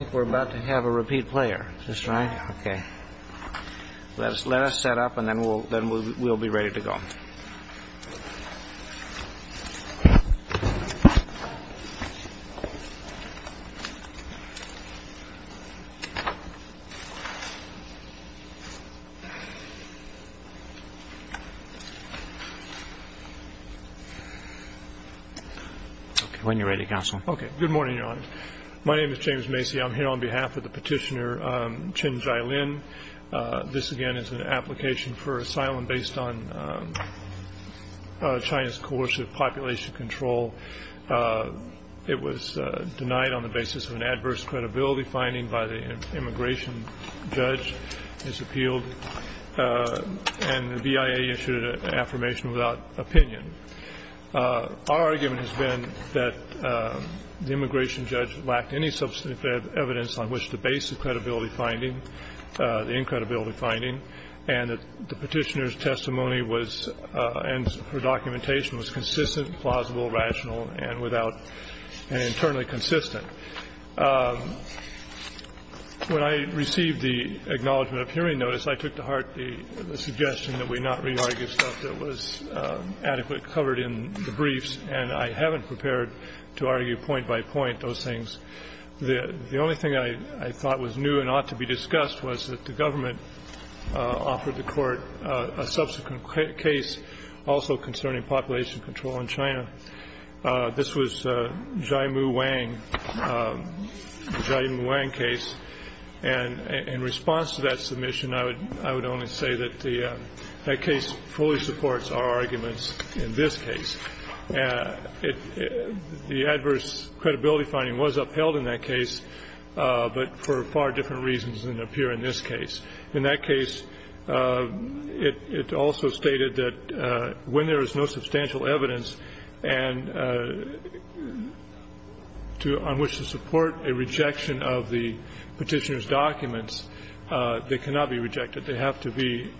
I think we're about to have a repeat player. Is this right? Okay. Let us set up and then we'll be ready to go. When you're ready, Counsel. Okay. Good morning, Your Honor. My name is James Macy. I'm here on behalf of the petitioner Chen Jialin. This, again, is an application for asylum based on China's coercive population control. It was denied on the basis of an adverse credibility finding by the immigration judge. It's appealed and the VIA issued an affirmation without opinion. Our argument has been that the immigration judge lacked any substantive evidence on which to base the credibility finding, the incredibility finding, and that the petitioner's testimony was and her documentation was consistent, plausible, rational, and without an internally consistent. When I received the acknowledgment of hearing notice, I took to heart the suggestion that we not re-argue stuff that was adequately covered in the briefs. And I haven't prepared to argue point by point those things. The only thing I thought was new and ought to be discussed was that the government offered the court a subsequent case also concerning population control in China. This was Jiamu Wang, the Jiamu Wang case. And in response to that submission, I would only say that that case fully supports our arguments in this case. The adverse credibility finding was upheld in that case, but for far different reasons than appear in this case. In that case, it also stated that when there is no substantial evidence on which to support a rejection of the petitioner's documents, they cannot be rejected. They have to be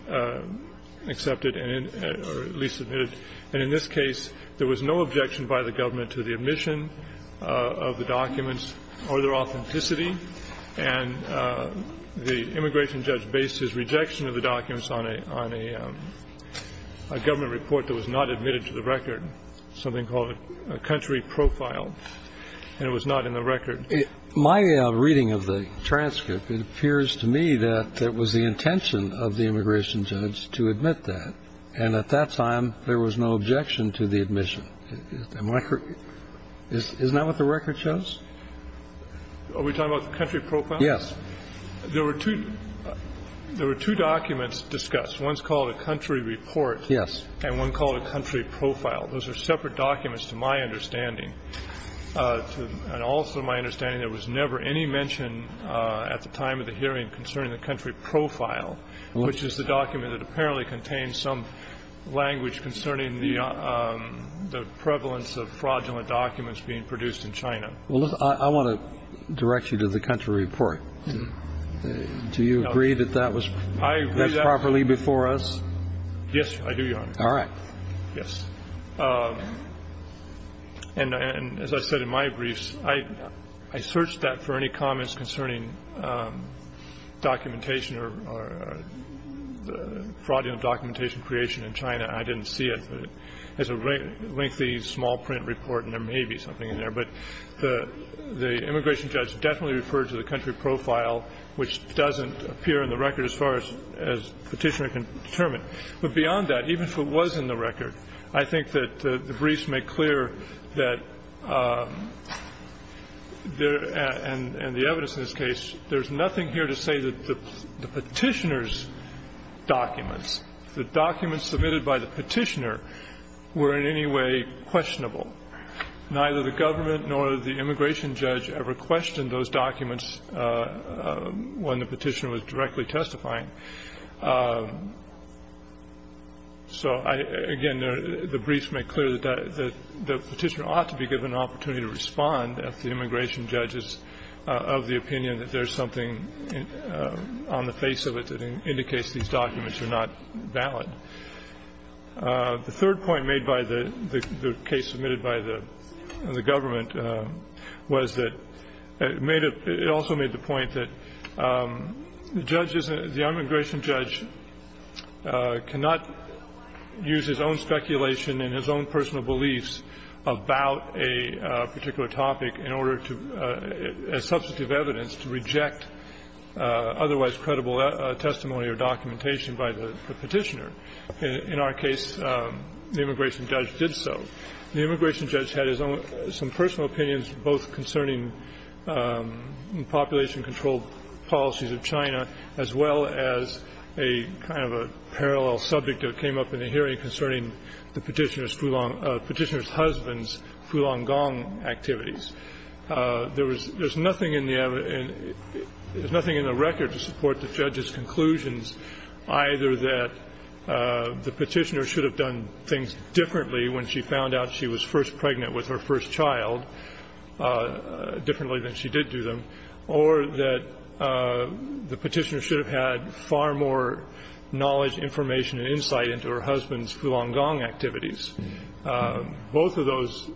accepted or at least submitted. And in this case, there was no objection by the government to the admission of the documents or their authenticity. And the immigration judge based his rejection of the documents on a government report that was not admitted to the record, something called a country profile, and it was not in the record. My reading of the transcript, it appears to me that it was the intention of the immigration judge to admit that. And at that time, there was no objection to the admission. Is that what the record shows? Are we talking about the country profile? Yes. There were two documents discussed. One's called a country report. Yes. And one called a country profile. Those are separate documents to my understanding. And also my understanding, there was never any mention at the time of the hearing concerning the country profile, which is the document that apparently contains some language concerning the prevalence of fraudulent documents being produced in China. Well, I want to direct you to the country report. Do you agree that that was properly before us? Yes, I do, Your Honor. All right. Yes. And as I said in my briefs, I searched that for any comments concerning documentation or fraudulent documentation creation in China. I didn't see it. It's a lengthy, small print report, and there may be something in there. But the immigration judge definitely referred to the country profile, which doesn't appear in the record as far as Petitioner can determine. But beyond that, even if it was in the record, I think that the briefs make clear that there, and the evidence in this case, there's nothing here to say that the Petitioner's documents, the documents submitted by the Petitioner, were in any way questionable. Neither the government nor the immigration judge ever questioned those documents when the Petitioner was directly testifying. So, again, the briefs make clear that the Petitioner ought to be given an opportunity to respond if the immigration judge is of the opinion that there's something on the face of it that indicates these documents are not valid. The third point made by the case submitted by the government was that it also made the point that the judge isn't the immigration judge cannot use his own speculation and his own personal beliefs about a particular topic in order to, as substantive evidence, to reject otherwise credible testimony or documentation by the Petitioner. In our case, the immigration judge did so. The immigration judge had his own personal opinions both concerning population control policies of China as well as a kind of a parallel subject that came up in the hearing concerning the Petitioner's husband's Fulong Gong activities. There was nothing in the record to support the judge's conclusions, either that the Petitioner should have done things differently when she found out she was first pregnant with her first child, differently than she did do them, or that the Petitioner should have had far more knowledge, information, and insight into her husband's Fulong Gong activities, both of those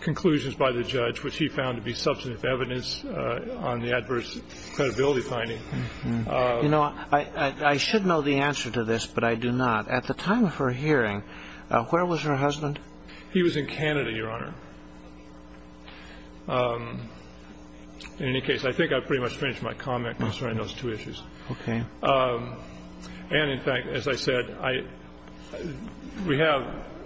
conclusions by the judge, which he found to be substantive evidence on the adverse credibility finding. You know, I should know the answer to this, but I do not. At the time of her hearing, where was her husband? He was in Canada, Your Honor. In any case, I think I pretty much finished my comment concerning those two issues. Okay. And, in fact, as I said, we have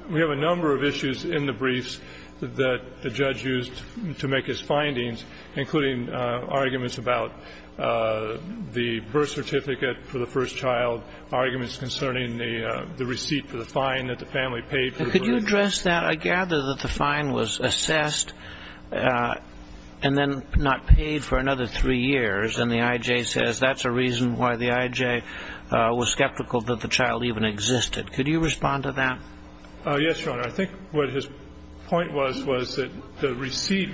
a number of issues in the briefs that the judge used to make his findings, including arguments about the birth certificate for the first child, arguments concerning the receipt for the fine that the family paid for the birth certificate. Could you address that? I gather that the fine was assessed and then not paid for another three years, and the I.J. says that's a reason why the I.J. was skeptical that the child even existed. Could you respond to that? Yes, Your Honor. I think what his point was, was that the receipt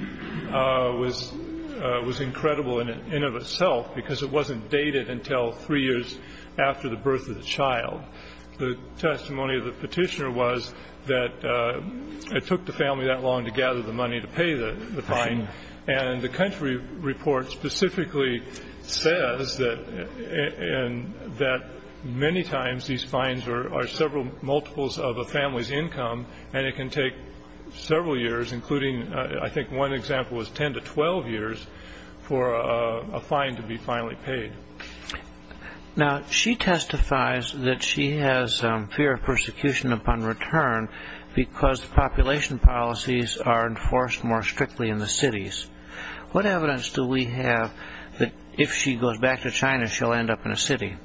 was incredible in and of itself because it wasn't dated until three years after the birth of the child. The testimony of the Petitioner was that it took the family that long to gather the money to pay the fine, and the country report specifically says that many times these can take several years, including I think one example was 10 to 12 years for a fine to be finally paid. Now, she testifies that she has fear of persecution upon return because the population policies are enforced more strictly in the cities. What evidence do we have that if she goes back to China she'll end up in a city?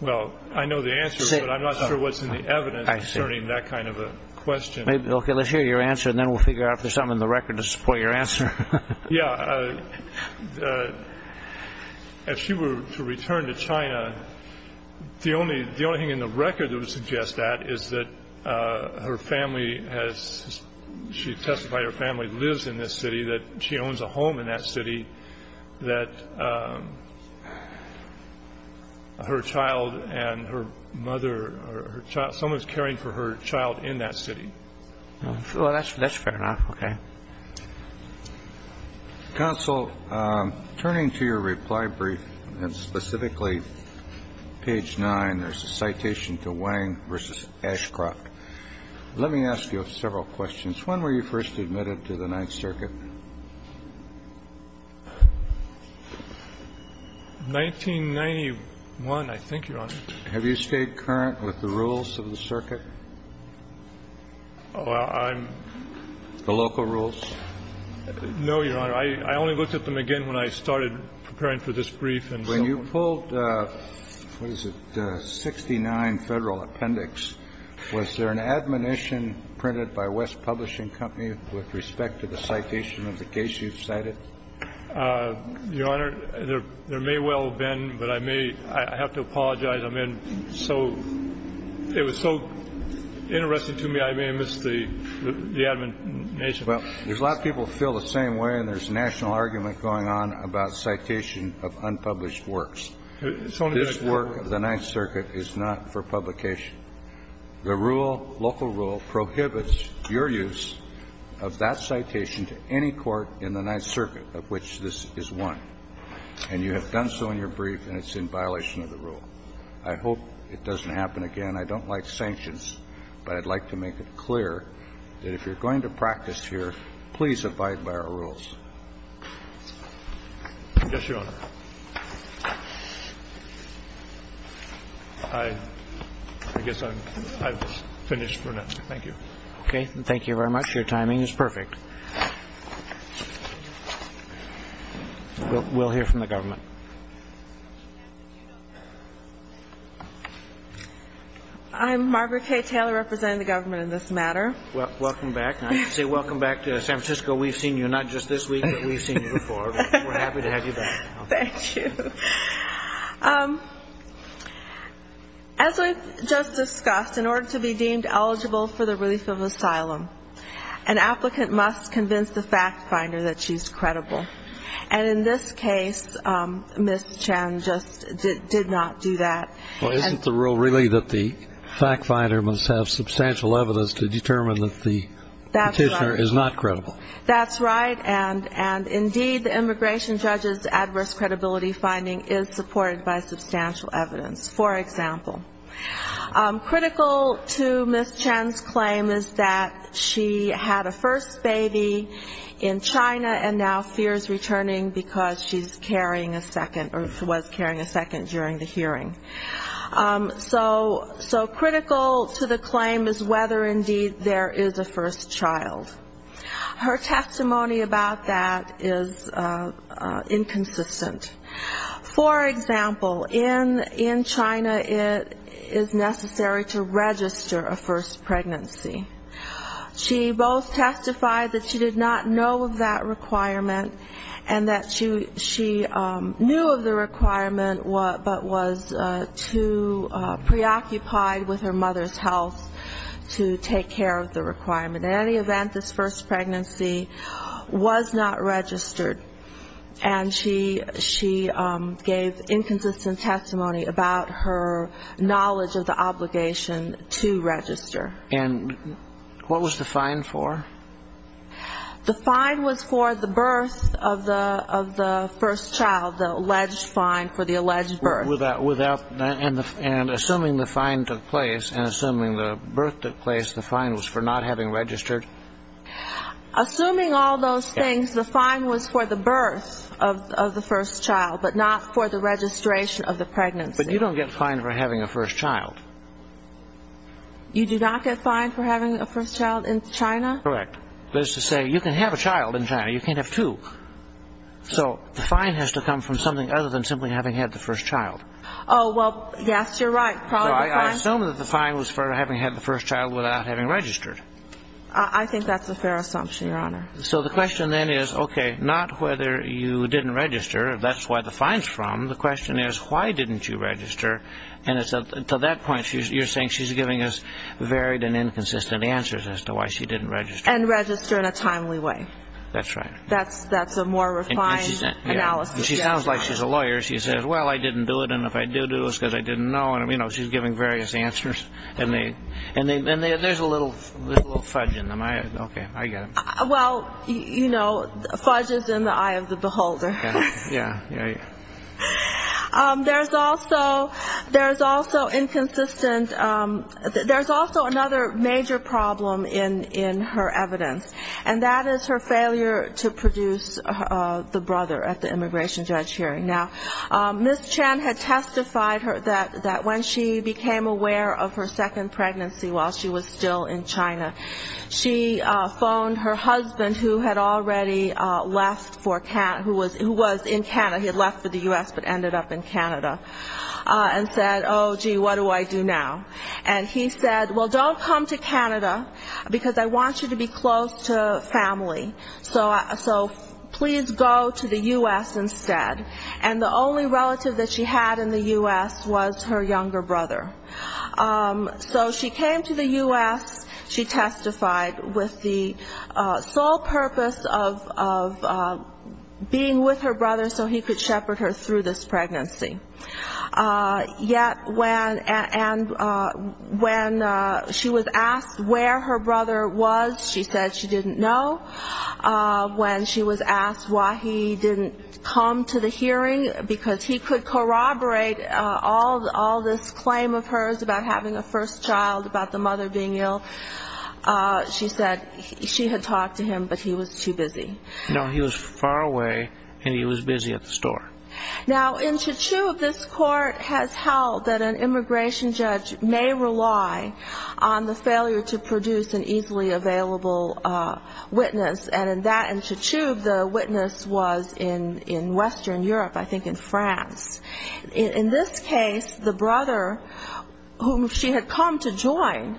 Well, I know the answer, but I'm not sure what's in the evidence concerning that kind of a question. Okay. Let's hear your answer, and then we'll figure out if there's something in the record to support your answer. Yeah. If she were to return to China, the only thing in the record that would suggest that is that her family has she testified her family lives in this city, that she owns a home in that city, that her child and her mother, someone's caring for her child in that city. Well, that's fair enough. Okay. Counsel, turning to your reply brief, and specifically page 9, there's a citation to Wang v. Ashcroft. Let me ask you several questions. When were you first admitted to the Ninth Circuit? 1991, I think, Your Honor. Have you stayed current with the rules of the circuit? The local rules? No, Your Honor. I only looked at them again when I started preparing for this brief. When you pulled, what is it, 69 Federal Appendix, was there an admonition printed by West Publishing Company with respect to the citation of the case you've cited? Your Honor, there may well have been, but I may have to apologize. It was so interesting to me, I may have missed the admonition. Well, there's a lot of people who feel the same way, and there's a national argument going on about citation of unpublished works. This work of the Ninth Circuit is not for publication. The rule, local rule, prohibits your use of that citation to any court in the Ninth Circuit of which this is one. And you have done so in your brief, and it's in violation of the rule. I hope it doesn't happen again. I don't like sanctions, but I'd like to make it clear that if you're going to practice here, please abide by our rules. Yes, Your Honor. I guess I'm finished for now. Thank you. Okay. Thank you very much. Your timing is perfect. We'll hear from the government. I'm Marguerite Taylor, representing the government in this matter. Welcome back. I say welcome back to San Francisco. We've seen you not just this week, but we've seen you before. We're happy to have you back. Thank you. As we've just discussed, in order to be deemed eligible for the relief of asylum, an applicant must convince the fact finder that she's credible. And in this case, Ms. Chan just did not do that. Well, isn't the rule really that the fact finder must have substantial evidence to determine that the petitioner is not credible? That's right. And, indeed, the immigration judge's adverse credibility finding is supported by substantial evidence. For example, critical to Ms. Chan's claim is that she had a first baby in China and now fears returning because she's carrying a second or was carrying a second during the hearing. So critical to the claim is whether, indeed, there is a first child. Her testimony about that is inconsistent. For example, in China it is necessary to register a first pregnancy. She both testified that she did not know of that requirement and that she knew of the requirement, but was too preoccupied with her mother's health to take care of the requirement. In any event, this first pregnancy was not registered, and she gave inconsistent testimony about her knowledge of the obligation to register. And what was the fine for? The fine was for the birth of the first child, the alleged fine for the alleged birth. And assuming the fine took place and assuming the birth took place, the fine was for not having registered? Assuming all those things, the fine was for the birth of the first child, but not for the registration of the pregnancy. But you don't get fined for having a first child. You do not get fined for having a first child in China? Correct. That is to say, you can have a child in China. You can't have two. So the fine has to come from something other than simply having had the first child. Oh, well, yes, you're right. I assume that the fine was for having had the first child without having registered. I think that's a fair assumption, Your Honor. So the question then is, okay, not whether you didn't register, that's where the fine's from. The question is, why didn't you register? And to that point, you're saying she's giving us varied and inconsistent answers as to why she didn't register. And register in a timely way. That's right. That's a more refined analysis. She sounds like she's a lawyer. She says, well, I didn't do it, and if I do do it, it's because I didn't know. And, you know, she's giving various answers. And there's a little fudge in them. Okay, I get it. Well, you know, fudge is in the eye of the beholder. Yeah, yeah, yeah. There's also inconsistent – there's also another major problem in her evidence, and that is her failure to produce the brother at the immigration judge hearing. Now, Ms. Chen had testified that when she became aware of her second pregnancy while she was still in China, she phoned her husband, who had already left for – who was in Canada. He had left for the U.S., but ended up in Canada, and said, oh, gee, what do I do now? And he said, well, don't come to Canada, because I want you to be close to family. So please go to the U.S. instead. And the only relative that she had in the U.S. was her younger brother. So she came to the U.S. She testified with the sole purpose of being with her brother so he could shepherd her through this pregnancy. And when she was asked where her brother was, she said she didn't know. When she was asked why he didn't come to the hearing, because he could corroborate all this claim of hers about having a first child, about the mother being ill, she said she had talked to him, but he was too busy. No, he was far away, and he was busy at the store. Now, in Chichoub, this court has held that an immigration judge may rely on the failure to produce an easily available witness, and in Chichoub, the witness was in Western Europe, I think in France. In this case, the brother whom she had come to join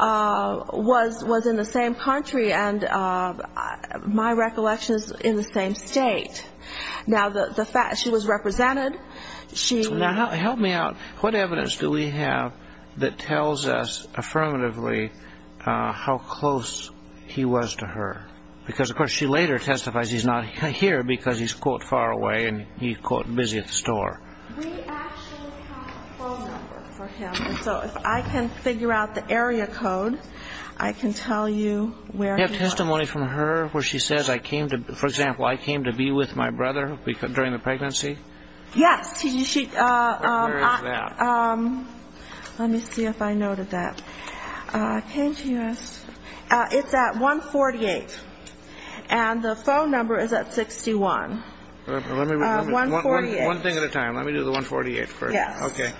was in the same country, and my recollection is in the same state. Now, she was represented. Now, help me out. What evidence do we have that tells us affirmatively how close he was to her? Because, of course, she later testifies he's not here because he's, quote, far away, and he's, quote, busy at the store. We actually have a phone number for him. And so if I can figure out the area code, I can tell you where he was. Do we have testimony from her where she says, for example, I came to be with my brother during the pregnancy? Yes. Where is that? Let me see if I noted that. It's at 148, and the phone number is at 61. One thing at a time. Let me do the 148 first. Yes. Okay.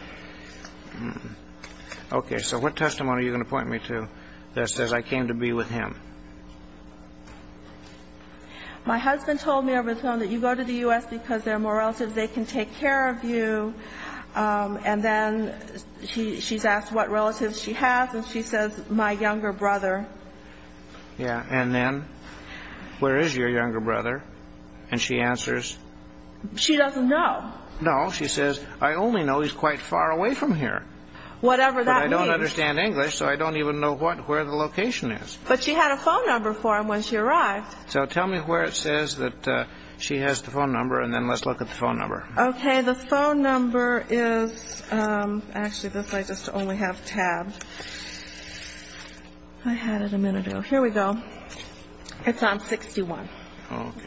Okay. So what testimony are you going to point me to that says I came to be with him? My husband told me over the phone that you go to the U.S. because there are more relatives. They can take care of you. And then she's asked what relatives she has, and she says my younger brother. Yeah. And then where is your younger brother? And she answers. She doesn't know. No. She says I only know he's quite far away from here. Whatever that means. But I don't understand English, so I don't even know where the location is. But she had a phone number for him when she arrived. So tell me where it says that she has the phone number, and then let's look at the phone number. Okay. The phone number is actually this way just to only have tabs. I had it a minute ago. Here we go. It's on 61. Okay.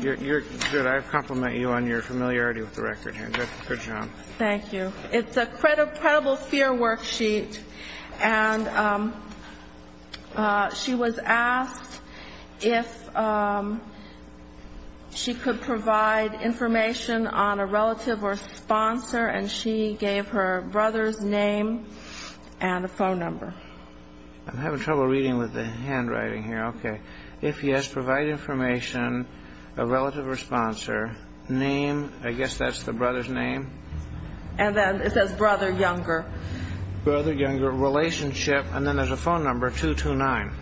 Good. I compliment you on your familiarity with the record here. Good job. Thank you. It's a credible fear worksheet, and she was asked if she could provide information on a relative or sponsor, and she gave her brother's name and a phone number. I'm having trouble reading with the handwriting here. Okay. If yes, provide information, a relative or sponsor, name, I guess that's the brother's name. And then it says brother, younger. Brother, younger, relationship, and then there's a phone number, 229.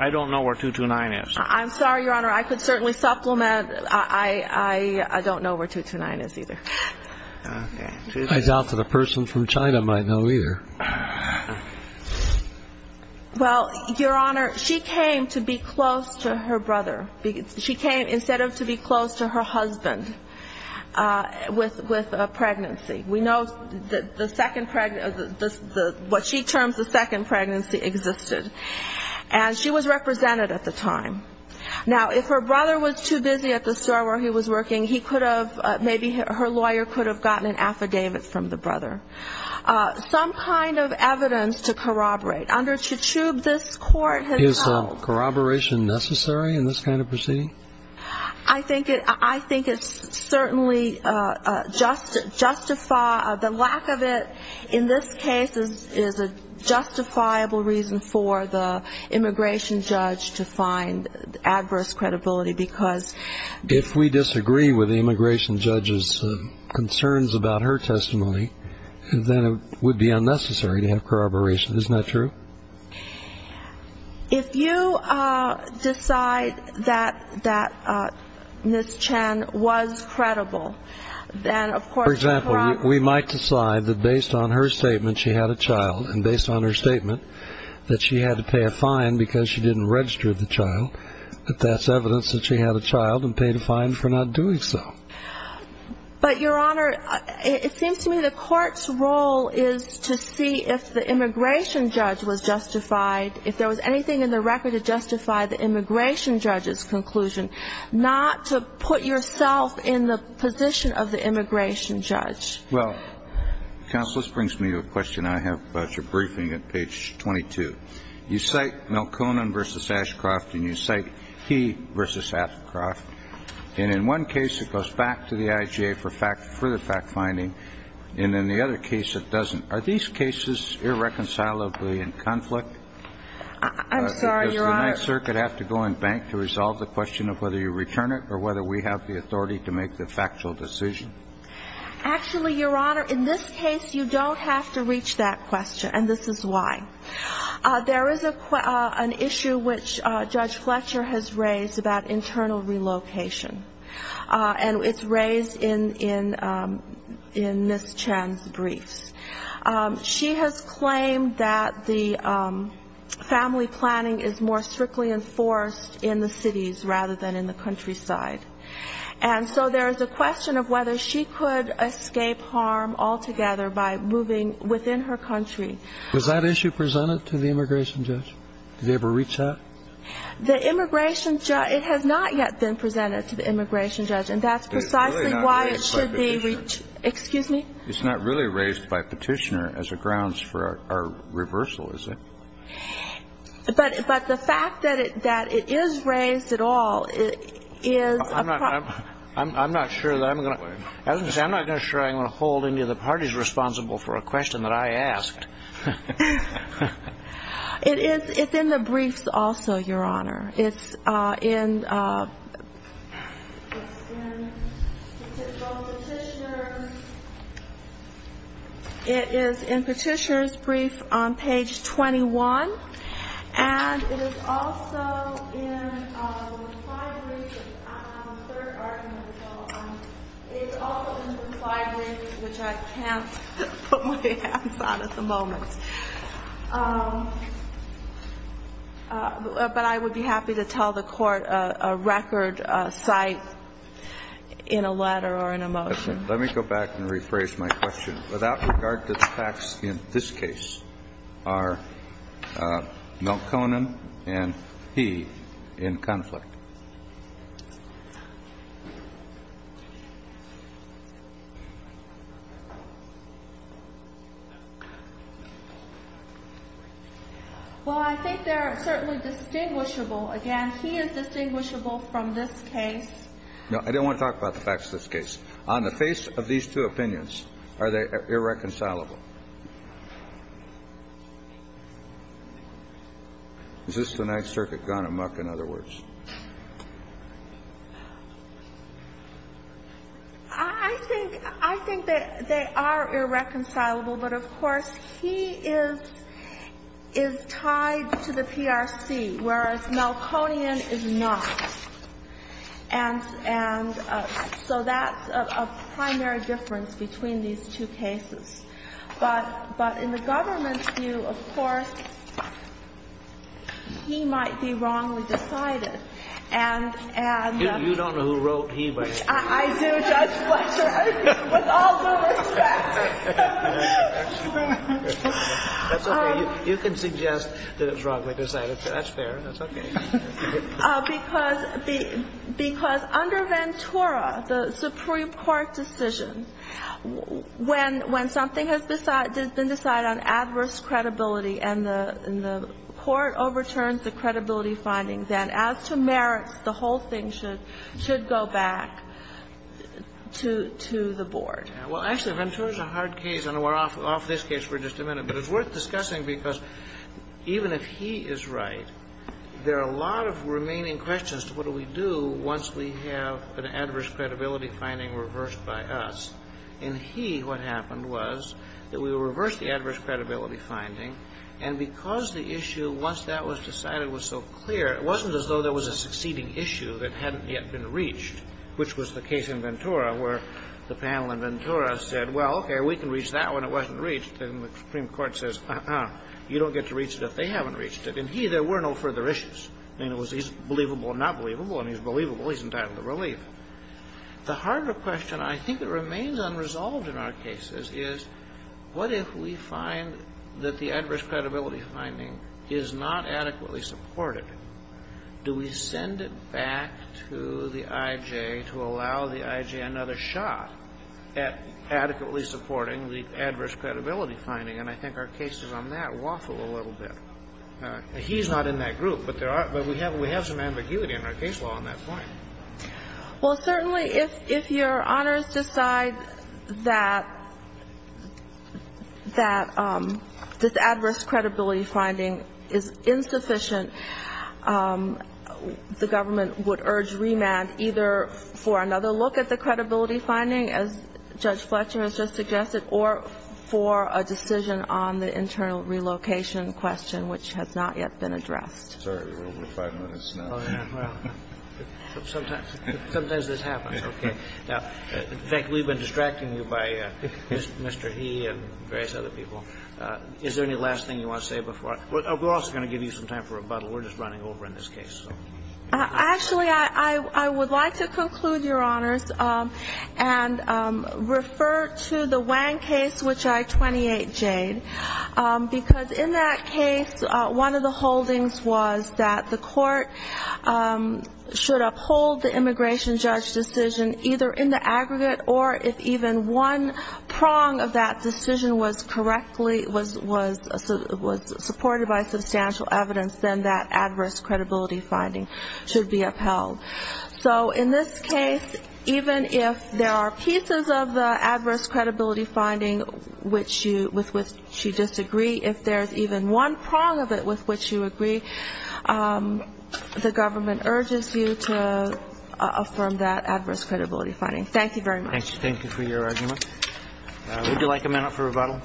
I don't know where 229 is. I'm sorry, Your Honor. I could certainly supplement. I don't know where 229 is either. I doubt that a person from China might know either. Well, Your Honor, she came to be close to her brother. She came instead of to be close to her husband with a pregnancy. We know what she terms the second pregnancy existed, and she was represented at the time. Now, if her brother was too busy at the store where he was working, he could have, maybe her lawyer could have gotten an affidavit from the brother. Some kind of evidence to corroborate. Under Chachoub, this court has not. Is corroboration necessary in this kind of proceeding? I think it's certainly justified. The lack of it in this case is a justifiable reason for the immigration judge to find adverse credibility because. If we disagree with the immigration judge's concerns about her testimony, then it would be unnecessary to have corroboration. Isn't that true? If you decide that Ms. Chen was credible, then of course. For example, we might decide that based on her statement she had a child and based on her statement that she had to pay a fine because she didn't register the child, that that's evidence that she had a child and paid a fine for not doing so. But, Your Honor, it seems to me the court's role is to see if the immigration judge was justified, if there was anything in the record to justify the immigration judge's conclusion, not to put yourself in the position of the immigration judge. Well, Counsel, this brings me to a question I have about your briefing at page 22. You cite Melkonen v. Ashcroft and you cite He v. Ashcroft, and in one case it goes back to the IGA for the fact finding, and in the other case it doesn't. Are these cases irreconcilably in conflict? I'm sorry, Your Honor. Does the Ninth Circuit have to go and bank to resolve the question of whether you return it or whether we have the authority to make the factual decision? Actually, Your Honor, in this case you don't have to reach that question, and this is why. There is an issue which Judge Fletcher has raised about internal relocation, and it's raised in Ms. Chen's briefs. She has claimed that the family planning is more strictly enforced in the cities rather than in the countryside. And so there is a question of whether she could escape harm altogether by moving within her country. Was that issue presented to the immigration judge? Did they ever reach that? The immigration judge, it has not yet been presented to the immigration judge, and that's precisely why it should be reached. It's really not raised by Petitioner. Excuse me? It's not really raised by Petitioner as a grounds for our reversal, is it? But the fact that it is raised at all is a problem. I'm not sure that I'm going to hold any of the parties responsible for a question that I asked. It's in the briefs also, Your Honor. It's in Petitioner's brief on page 21, and it is also in the slide list, which I can't put my hands on at the moment. But I would be happy to tell the Court a record cite in a letter or in a motion. Let me go back and rephrase my question. Without regard to the facts in this case, are Milt Conan and he in conflict? Well, I think they're certainly distinguishable. Again, he is distinguishable from this case. No, I don't want to talk about the facts of this case. On the face of these two opinions, are they irreconcilable? Is this the Ninth Circuit gone amuck, in other words? I think they are irreconcilable, but, of course, he is tied to the PRC, whereas Milt Conan is not. And so that's a primary difference between these two cases. But in the government's view, of course, he might be wrongly decided. And the ---- You don't know who wrote he, by the way. I do, Judge Fletcher, with all due respect. That's okay. You can suggest that it's wrongly decided. That's fair. That's okay. Because under Ventura, the Supreme Court decision, when something has been decided on adverse credibility and the court overturns the credibility findings, then as to merits, the whole thing should go back to the board. Well, actually, Ventura is a hard case. And we're off this case for just a minute. But it's worth discussing because even if he is right, there are a lot of remaining questions to what do we do once we have an adverse credibility finding reversed by us. In he, what happened was that we reversed the adverse credibility finding. And because the issue, once that was decided, was so clear, it wasn't as though there was a succeeding issue that hadn't yet been reached, which was the case in Ventura where the panel in Ventura said, well, okay, we can reach that one. It wasn't reached. And the Supreme Court says, uh-uh, you don't get to reach it if they haven't reached it. In he, there were no further issues. In other words, he's believable or not believable. And he's believable. He's entitled to relief. The harder question, I think it remains unresolved in our cases, is what if we find that the adverse credibility finding is not adequately supported? Do we send it back to the I.J. to allow the I.J. another shot at adequately supporting the adverse credibility finding? And I think our cases on that waffle a little bit. He's not in that group, but there are – but we have some ambiguity in our case law on that point. Well, certainly, if your Honors decide that this adverse credibility finding is insufficient, the government would urge remand either for another look at the credibility finding, as Judge Fletcher has just suggested, or for a decision on the internal relocation question, which has not yet been addressed. Sorry. We're over five minutes now. Oh, yeah. Well, sometimes this happens. Okay. Now, in fact, we've been distracting you by Mr. He and various other people. Is there any last thing you want to say before – we're also going to give you some time for rebuttal. We're just running over in this case. Actually, I would like to conclude, Your Honors, and refer to the Wang case, which I 28J'd, because in that case, one of the holdings was that the court should uphold the immigration judge decision either in the aggregate or if even one prong of that decision was supported by substantial evidence, then that adverse credibility finding should be upheld. So in this case, even if there are pieces of the adverse credibility finding with which you disagree, if there's even one prong of it with which you agree, the government urges you to affirm that adverse credibility finding. Thank you very much. Thank you for your argument. Would you like a minute for rebuttal?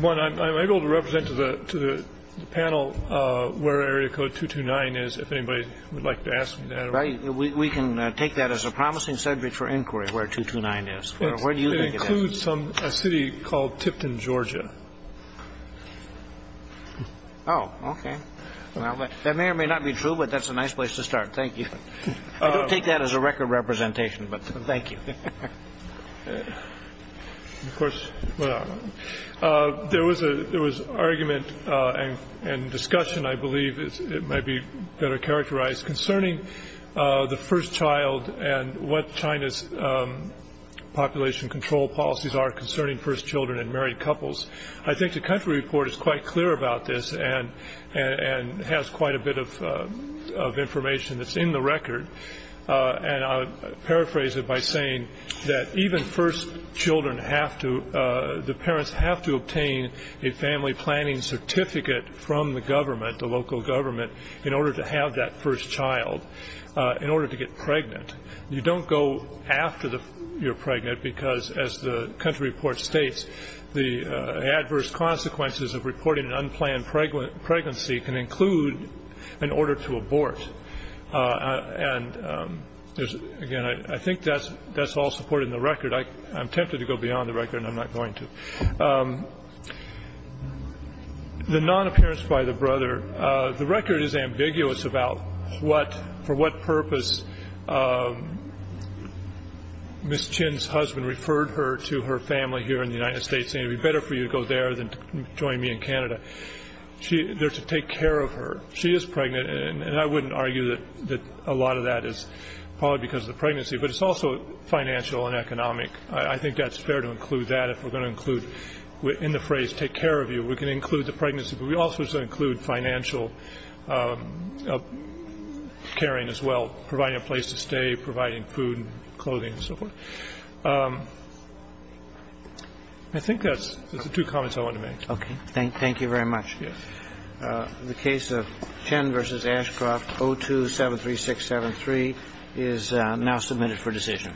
One, I'm able to represent to the panel where Area Code 229 is, if anybody would like to ask me that. Right. We can take that as a promising subject for inquiry, where 229 is. Where do you think it is? It includes a city called Tipton, Georgia. Oh, okay. That may or may not be true, but that's a nice place to start. Thank you. I don't take that as a record representation, but thank you. Of course. There was argument and discussion, I believe it may be better characterized, concerning the first child and what China's population control policies are concerning first children and married couples. I think the country report is quite clear about this and has quite a bit of information that's in the record. And I'll paraphrase it by saying that even first children have to, the parents have to obtain a family planning certificate from the government, the local government, in order to have that first child, in order to get pregnant. You don't go after you're pregnant because, as the country report states, the adverse consequences of reporting an unplanned pregnancy can include an order to abort. And, again, I think that's all supported in the record. I'm tempted to go beyond the record, and I'm not going to. The non-appearance by the brother, the record is ambiguous about what, for what purpose, Ms. Chin's husband referred her to her family here in the United States, saying it would be better for you to go there than to join me in Canada. They're to take care of her. She is pregnant, and I wouldn't argue that a lot of that is probably because of the pregnancy, but it's also financial and economic. I think that's fair to include that. If we're going to include in the phrase take care of you, we can include the pregnancy, but we also should include financial caring as well, providing a place to stay, providing food and clothing and so forth. I think that's the two comments I wanted to make. Okay. Thank you very much. The case of Chin v. Ashcroft, 0273673 is now submitted for decision.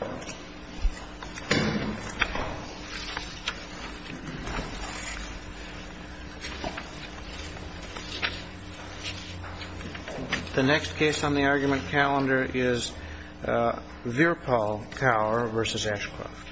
The next case on the argument calendar is Virpal Tower v. Ashcroft.